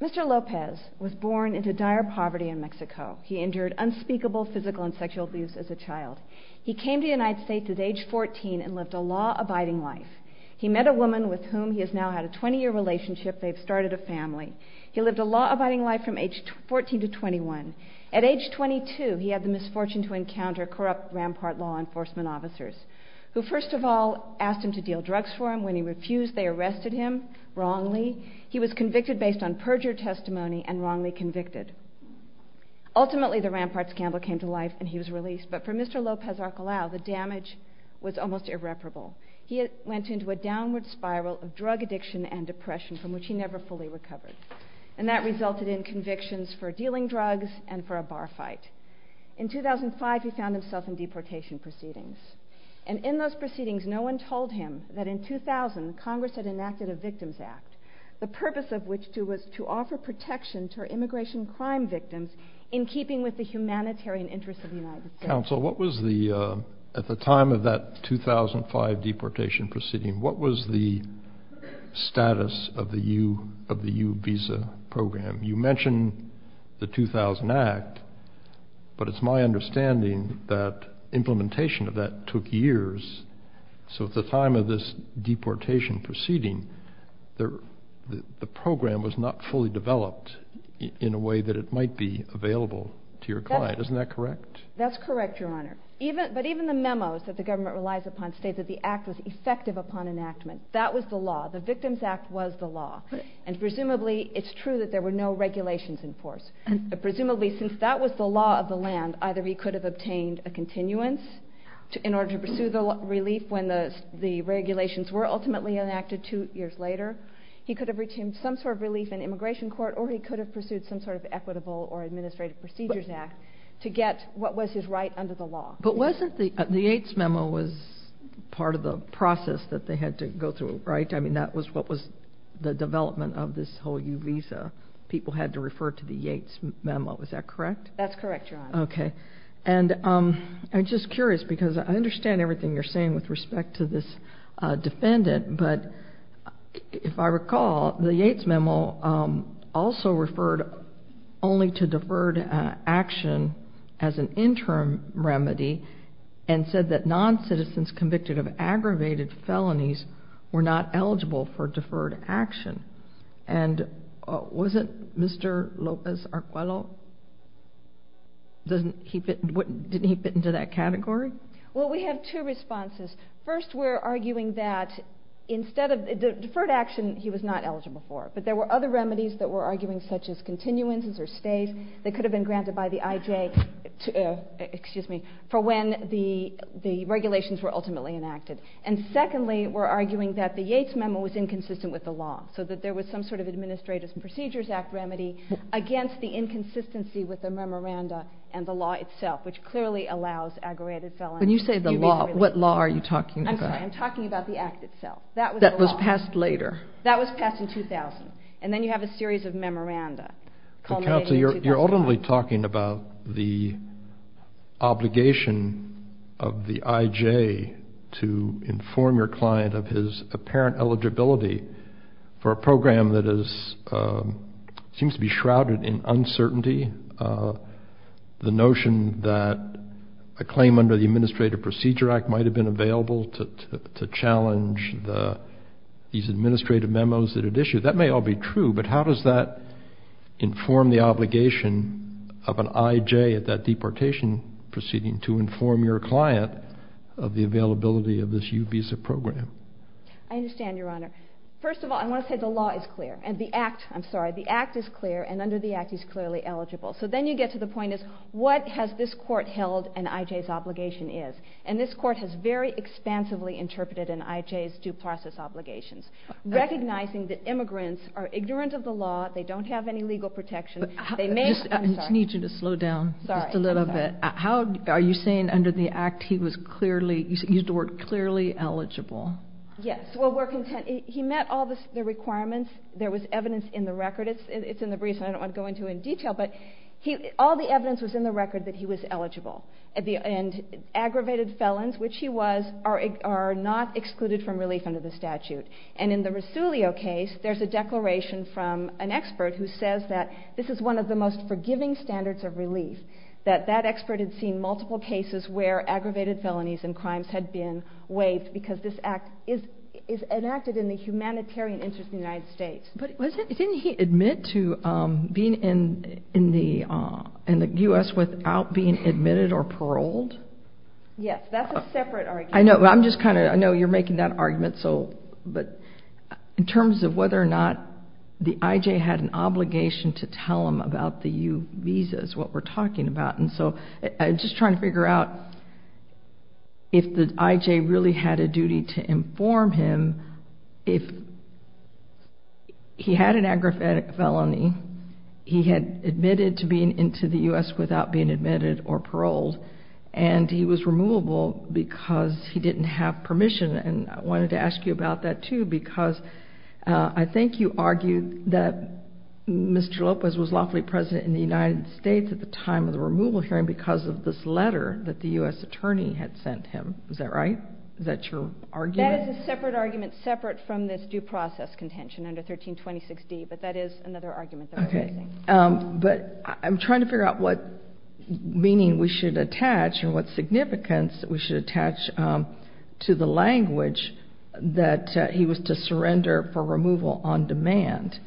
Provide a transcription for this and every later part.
Mr. Lopez was born into dire poverty in Mexico. He endured unspeakable physical and sexual abuse as a child. He came to the United States at age 14 and lived a law-abiding life. He lived a law-abiding life from age 14 to 21. At age 22, he had the misfortune to encounter corrupt Rampart law enforcement officers, who first of all asked him to deal drugs for him. When he refused, they arrested him wrongly. He was convicted based on perjured testimony and wrongly convicted. Ultimately, the Rampart scandal came to life and he was released, but for Mr. Lopez Arquelao, the damage was almost irreparable. He went into a downward spiral of drug addiction and depression from which he never fully recovered. That resulted in convictions for dealing drugs and for a bar fight. In 2005, he found himself in deportation proceedings. In those proceedings, no one told him that in 2000, Congress had enacted a Victims Act, the purpose of which was to offer protection to immigration crime victims in keeping with the humanitarian interests of the United States. Counsel, at the time of that 2005 deportation proceeding, what was the status of the U visa program? You mentioned the 2000 Act, but it's my understanding that implementation of that took years. So at the time of this deportation proceeding, the program was not fully developed in a way that it might be available to your client. Isn't that correct? That's correct, Your Honor. But even the memos that the government relies upon state that the act was effective upon enactment. That was the law. The Victims Act was the law. And presumably, it's true that there were no regulations in force. Presumably, since that was the law of the land, either he could have obtained a continuance in order to pursue the relief when the regulations were ultimately enacted two years later. He could have retained some sort of relief in immigration court, or he could have pursued some sort of equitable or administrative procedures act to get what was his right under the law. But wasn't the Yates memo was part of the process that they had to go through, right? I mean, that was what was the development of this whole U visa. People had to refer to the Yates memo. Is that correct? That's correct, Your Honor. Okay. And I'm just curious because I understand everything you're saying with respect to this If I recall, the Yates memo also referred only to deferred action as an interim remedy and said that non-citizens convicted of aggravated felonies were not eligible for deferred action. And wasn't Mr. Lopez-Arquelo? Didn't he fit into that category? Well, we have two responses. First, we're arguing that instead of deferred action, he was not eligible for it. But there were other remedies that we're arguing such as continuances or stays that could have been granted by the IJ, excuse me, for when the regulations were ultimately enacted. And secondly, we're arguing that the Yates memo was inconsistent with the law so that there was some sort of administrative procedures act remedy against the inconsistency with the memoranda and the law itself, which clearly allows aggravated felonies. When you say the law, what law are you talking about? I'm sorry. I'm talking about the act itself. That was passed later. That was passed in 2000. And then you have a series of memoranda culminating in 2005. You're ultimately talking about the obligation of the IJ to inform your client of his apparent eligibility for a program that seems to be shrouded in uncertainty. The notion that a claim under the Administrative Procedure Act might have been available to challenge these administrative memos that it issued. That may all be true, but how does that inform the obligation of an IJ at that deportation proceeding to inform your client of the availability of this U visa program? I understand, Your Honor. First of all, I want to say the law is clear. And the act, I'm sorry, the act is clear. And under the act, he's clearly eligible. So then you get to the point is what has this court held an IJ's obligation is? And this court has very expansively interpreted an IJ's due process obligations. Recognizing that immigrants are ignorant of the law. They don't have any legal protection. They may, I'm sorry. I just need you to slow down just a little bit. Are you saying under the act, he was clearly, you used the word clearly eligible? Yes. Well, we're content. He met all the requirements. There was evidence in the record. It's in the briefs and I don't want to go into in detail, but all the evidence was in the record that he was eligible. And aggravated felons, which he was, are not excluded from relief under the statute. And in the Rosulio case, there's a declaration from an expert who says that this is one of the most forgiving standards of relief. That that expert had seen multiple cases where aggravated felonies and crimes had been waived because this act is enacted in the humanitarian interest of the United States. But didn't he admit to being in the U.S. without being admitted or paroled? Yes. That's a separate argument. I know. I'm just kind of, I know you're making that argument. So, but in terms of whether or not the IJ had an obligation to tell him about the U visas, what we're talking about. And so I'm just trying to figure out if the IJ really had a duty to inform him if he had an aggravated felony, he had admitted to being into the U.S. without being admitted or paroled, and he was removable because he didn't have permission. And I wanted to ask you about that too, because I think you argued that Mr. Lopez was lawfully president in the United States, but he was removal hearing because of this letter that the U.S. attorney had sent him. Is that right? Is that your argument? That is a separate argument, separate from this due process contention under 1326D, but that is another argument that we're using. But I'm trying to figure out what meaning we should attach and what significance we should attach to the language that he was to surrender for removal on demand.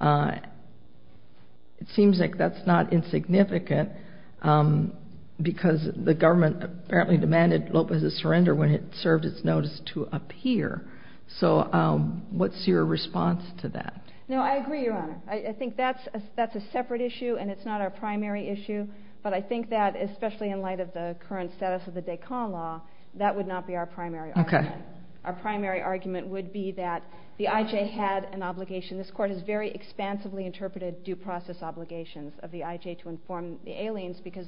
It seems like that's not insignificant because the government apparently demanded Lopez's surrender when it served its notice to appear. So what's your response to that? No, I agree, Your Honor. I think that's a separate issue and it's not our primary issue, but I think that, especially in light of the current status of the Dacon law, that would not be our primary argument. Our primary argument would be that the IJ had an obligation. This inform the aliens because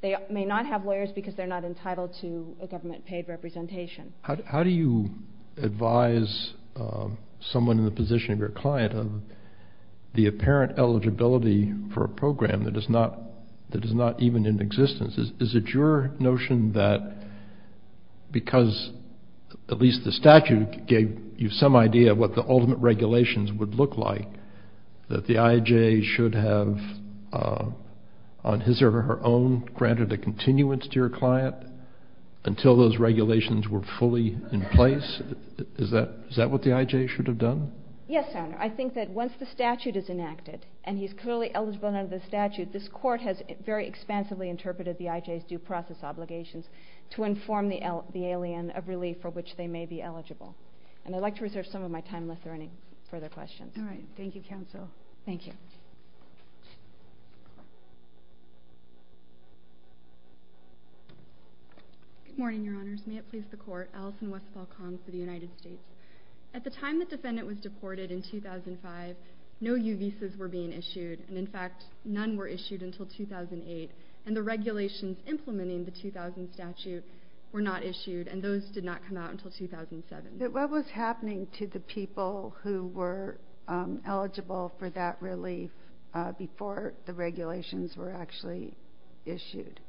they may not have lawyers because they're not entitled to a government paid representation. How do you advise someone in the position of your client of the apparent eligibility for a program that is not even in existence? Is it your notion that because at least the statute gave you some idea of what the ultimate regulations would look like, that the IJ should have, on his or her own, granted a continuance to your client until those regulations were fully in place? Is that what the IJ should have done? Yes, Your Honor. I think that once the statute is enacted and he's clearly eligible under the statute, this court has very expansively interpreted the IJ's due process obligations to inform the alien of relief for which they may be eligible. And I'd like to reserve some of my time if there are any further questions. All right. Thank you, Counsel. Thank you. Good morning, Your Honors. May it please the Court. Allison Westfall, Comms, for the United States. At the time the defendant was deported in 2005, no U visas were being issued. And in fact, none were issued until 2008. And the regulations implementing the 2000 statute were not issued, and those did not come out until 2007. What was happening to the people who were eligible for that relief before the regulations were actually issued?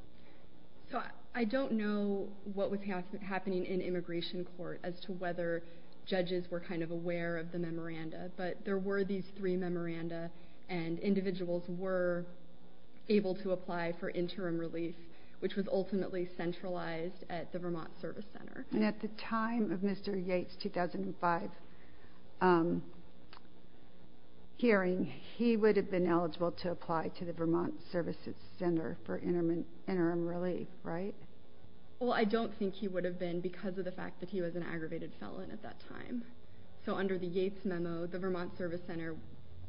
I don't know what was happening in immigration court as to whether judges were kind of aware of the memoranda, but there were these three memoranda, and individuals were able to apply for interim relief, which was ultimately centralized at the Vermont Service Center. And at the time of Mr. Yates' 2005 hearing, he would have been eligible to apply to the Vermont Service Center for interim relief, right? Well, I don't think he would have been because of the fact that he was an aggravated felon at that time. So under the Yates memo, the Vermont Service Center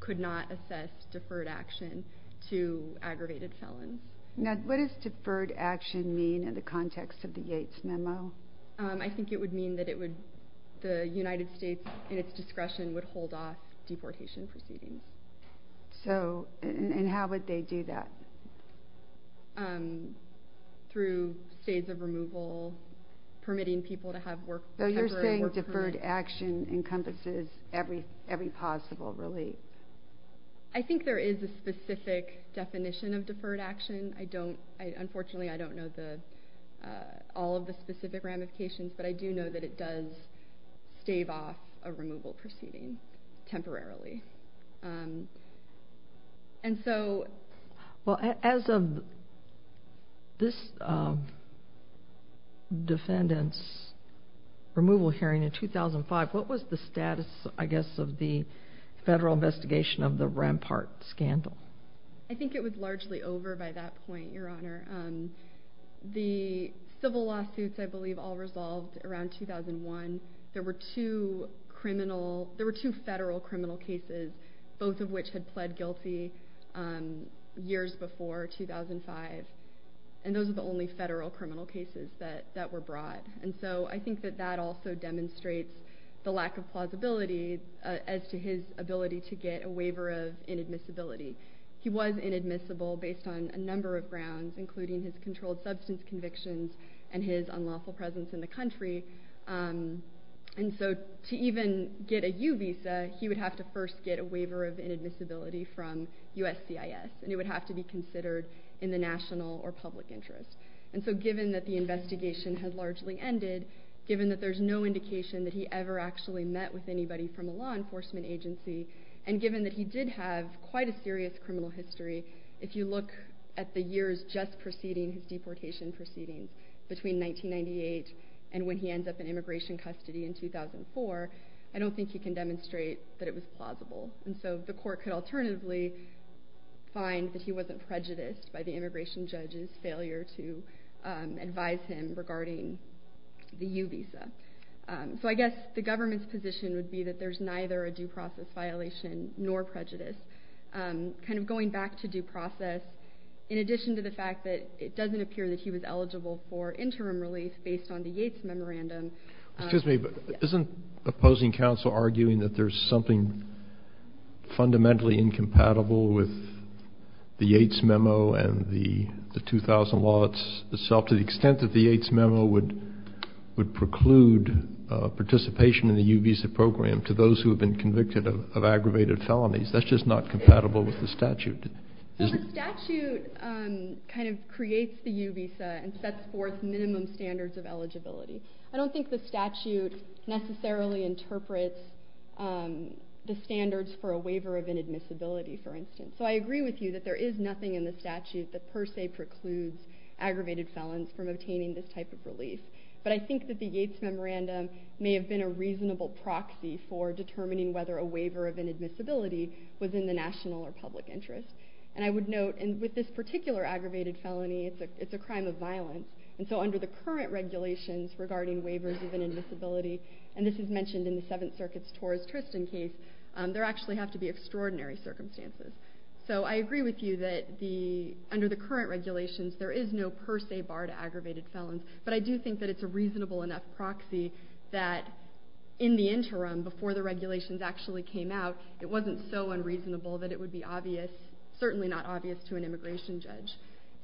could not assess deferred action to aggravated felons. Now, what does deferred action mean in the context of the Yates memo? I think it would mean that the United States, in its discretion, would hold off deportation proceedings. And how would they do that? Through stays of removal, permitting people to have temporary work permits. So you're saying deferred action encompasses every possible relief? I think there is a specific definition of deferred action. Unfortunately, I don't know all of the specific ramifications, but I do know that it does stave off a removal proceeding temporarily. Well, as of this defendant's removal hearing in 2005, what was the status, I guess, of the federal investigation of the Rampart scandal? I think it was largely over by that point, Your Honor. The civil lawsuits, I believe, all resolved around 2001. There were two federal criminal cases, both of which had pled guilty years before 2005, and those were the only federal criminal cases that were brought. And so I think that that also demonstrates the lack of plausibility as to his ability to get a waiver of inadmissibility. He was inadmissible based on a number of grounds, including his controlled substance convictions and his unlawful presence in the country. And so to even get a U visa, he would have to first get a waiver of inadmissibility from USCIS, and it would have to be considered in the national or public interest. And so given that the investigation had largely ended, given that there's no indication that he ever actually met with anybody from a law enforcement agency, and given that he did have quite a serious criminal history, if you look at the years just preceding his deportation proceedings, between 1998 and when he ends up in immigration custody in 2004, I don't think he can demonstrate that it was plausible. And so the court could alternatively find that he wasn't prejudiced by the immigration judge's failure to advise him regarding the U visa. So I guess the government's position would be that there's neither a due process violation nor prejudice. Kind of going back to due process, in addition to the fact that it doesn't appear that he was eligible for interim relief based on the Yates memorandum... Excuse me, but isn't opposing counsel arguing that there's something fundamentally incompatible with the Yates memo and the 2000 law itself to the extent that the Yates memo would preclude participation in the U visa program to those who have been convicted of aggravated felonies? That's just not compatible with the statute. The statute kind of creates the U visa and sets forth minimum standards of eligibility. I don't think the statute necessarily interprets the standards for a waiver of inadmissibility, for instance. So I agree with you that there is nothing in the statute that per se precludes aggravated felons from obtaining this type of relief. But I think that the Yates memorandum may have been a reasonable proxy for determining whether a waiver of inadmissibility was in the national or public interest. And I would note, with this particular aggravated felony, it's a crime of violence. And so under the current regulations regarding waivers of inadmissibility, and this is mentioned in the Seventh Circuit's Torres Tristan case, there actually have to be extraordinary circumstances. So I agree with you that under the current regulations, there is no per se bar to aggravated felons. But I do think that it's a reasonable enough proxy that in the interim, before the regulations actually came out, it wasn't so unreasonable that it would be obvious, certainly not obvious to an immigration judge.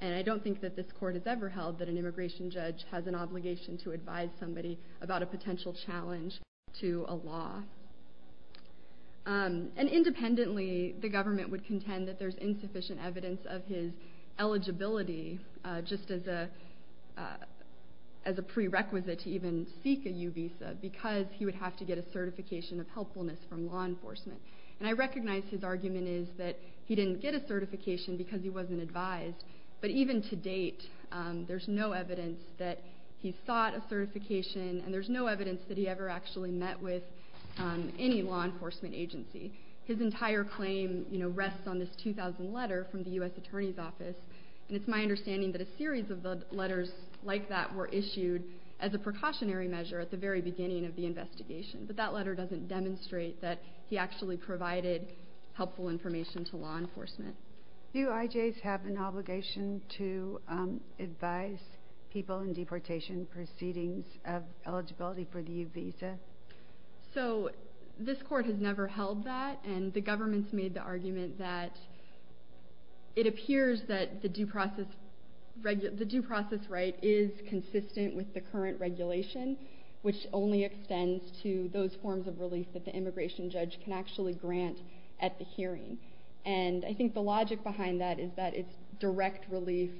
And I don't think that this court has ever held that an immigration judge has an obligation to advise somebody about a potential challenge to a law. And independently, the government would contend that there's insufficient evidence of his eligibility, just as a prerequisite to even seek a U visa, because he would have to get a certification of helpfulness from law enforcement. And I recognize his argument is that he didn't get a certification because he wasn't advised. But even to date, there's no evidence that he sought a certification, and there's no evidence that he ever actually met with any law enforcement agency. His entire claim, you know, rests on this 2000 letter from the U.S. Attorney's Office. And it's my understanding that a series of letters like that were issued as a precautionary measure at the very beginning of the investigation. But that letter doesn't demonstrate that he actually provided helpful information to law enforcement. Do IJs have an obligation to advise people in deportation proceedings of eligibility for the U visa? So, this court has never held that, and the government's made the argument that it appears that the due process right is consistent with the current regulation, which only extends to those forms of relief that the immigration judge can actually grant at the hearing. And I think the logic behind that is that it's direct relief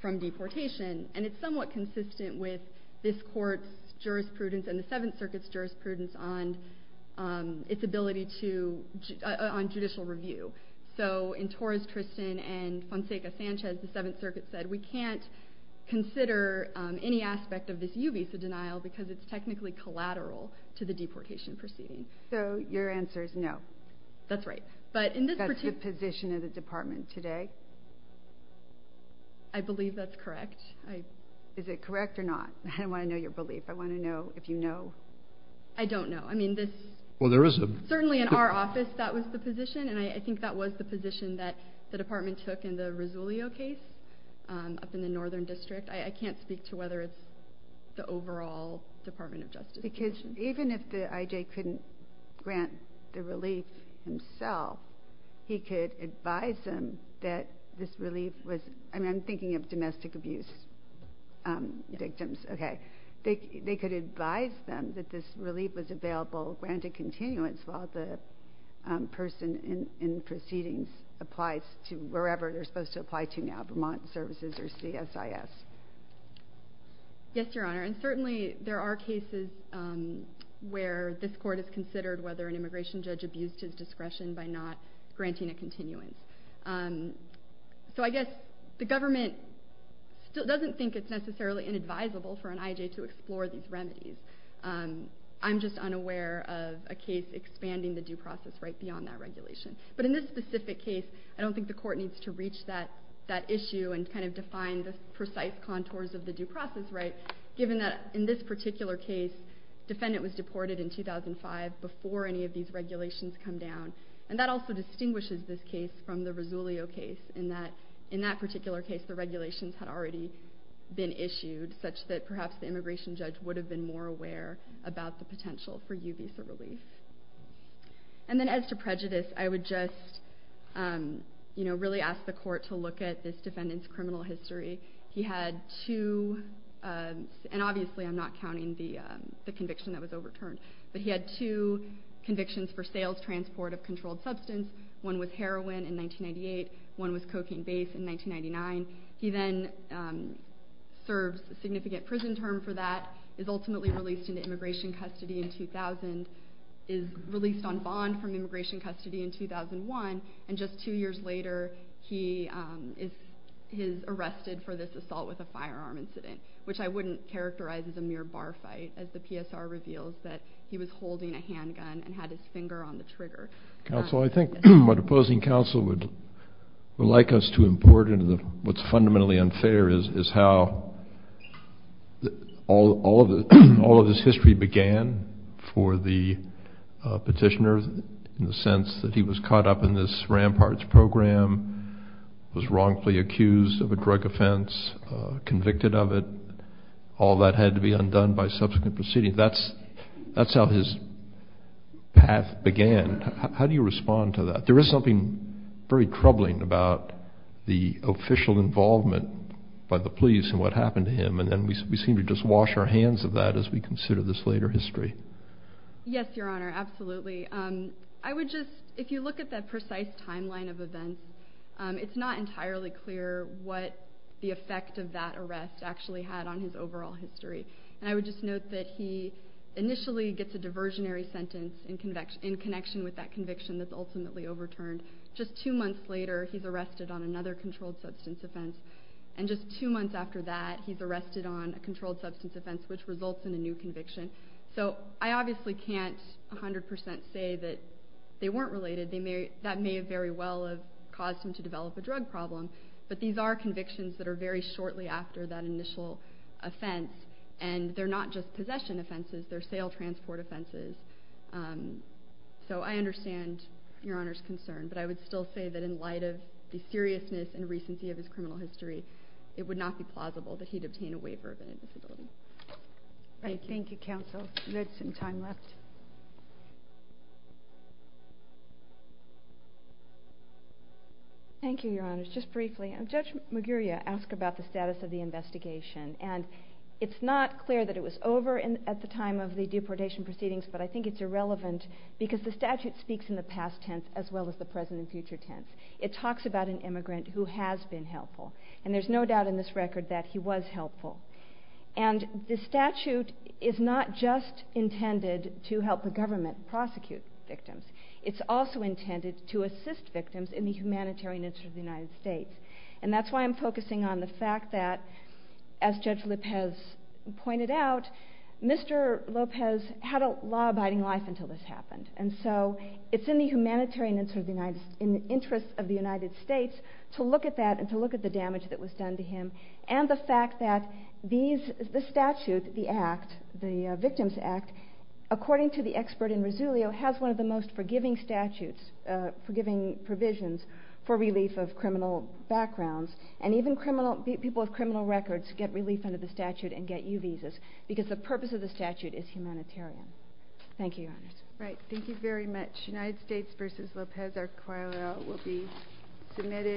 from deportation, and it's somewhat consistent with this court's jurisprudence and the 7th Circuit's jurisprudence on its ability to, on judicial review. So, in Torres-Tristan and Fonseca-Sanchez, the 7th Circuit said we can't consider any aspect of this U visa denial because it's technically collateral to the deportation proceedings. So, your answer is no? That's right. That's the position of the department today? I believe that's correct. Is it correct or not? I want to know your belief. I want to know if you know. I don't know. I mean, this... Well, there is a... Certainly in our office, that was the position, and I think that was the position that the I can't speak to whether it's the overall Department of Justice position. Because even if the IJ couldn't grant the relief himself, he could advise them that this relief was... I mean, I'm thinking of domestic abuse victims. Okay. They could advise them that this relief was available, granted continuance, while the person in proceedings applies to wherever they're supposed to apply to now, Vermont Services or CSIS. Yes, Your Honor. And certainly, there are cases where this court has considered whether an immigration judge abused his discretion by not granting a continuance. So, I guess the government doesn't think it's necessarily inadvisable for an IJ to explore these remedies. I'm just unaware of a case expanding the due process right beyond that regulation. But in this specific case, I don't think the court needs to reach that issue and kind of define the precise contours of the due process right, given that in this particular case, defendant was deported in 2005 before any of these regulations come down. And that also distinguishes this case from the Rosulio case in that, in that particular case, the regulations had already been issued such that perhaps the immigration judge would have been more aware about the potential for UVISA relief. And then as to prejudice, I would just, you know, really ask the court to look at this defendant's criminal history. He had two, and obviously I'm not counting the conviction that was overturned, but he had two convictions for sales transport of controlled substance. One was heroin in 1998. One was cocaine base in 1999. He then serves a significant prison term for that, is ultimately released into immigration custody in 2000, is released on bond from immigration custody in 2001. And just two years later, he is arrested for this assault with a firearm incident, which I wouldn't characterize as a mere bar fight as the PSR reveals that he was holding a handgun and had his finger on the trigger. Counsel, I think what opposing counsel would like us to import into what's fundamentally unfair is how all of this history began for the petitioner in the sense that he was caught up in this ramparts program, was wrongfully accused of a drug offense, convicted of it. All that had to be undone by subsequent proceedings. That's how his path began. How do you respond to that? There is something very troubling about the official involvement by the police and what happened to him. And then we seem to just wash our hands of that as we consider this later history. Yes, Your Honor. Absolutely. I would just, if you look at that precise timeline of events, it's not entirely clear what the effect of that arrest actually had on his overall history. And I would just note that he initially gets a diversionary sentence in connection with that conviction that's ultimately overturned. Just two months later, he's arrested on another controlled substance offense. And just two months after that, he's arrested on a controlled substance offense, which results in a new conviction. So I obviously can't 100% say that they weren't related. That may very well have caused him to develop a drug problem. But these are convictions that are very shortly after that initial offense. And they're not just possession offenses. They're sale transport offenses. So I understand Your Honor's concern. But I would still say that in light of the seriousness and recency of his criminal history, it would not be plausible that he'd obtain a waiver of any disability. Thank you, Counsel. There's some time left. Thank you, Your Honor. Just briefly, Judge Maguria asked about the status of the investigation. And it's not clear that it was over at the time of the deportation proceedings. But I think it's irrelevant because the statute speaks in the past tense as well as the present and future tense. It talks about an immigrant who has been helpful. And there's no doubt in this record that he was helpful. And the statute is not just intended to help the government prosecute victims. It's also intended to assist victims in the humanitarian interest of the United States. And that's why I'm focusing on the fact that, as Judge Lopez pointed out, Mr. Lopez had a law-abiding life until this happened. And so it's in the humanitarian interest of the United States to look at that and to look at the damage that was done to him. And the fact that the statute, the act, the Victims Act, according to the expert in Resilio, has one of the most forgiving statutes, forgiving provisions for relief of criminal backgrounds. And even people with criminal records get relief under the statute and get U-Visas because the purpose of the statute is humanitarian. Thank you, Your Honors. Right. Thank you very much. United States v. Lopez. Our file will be submitted.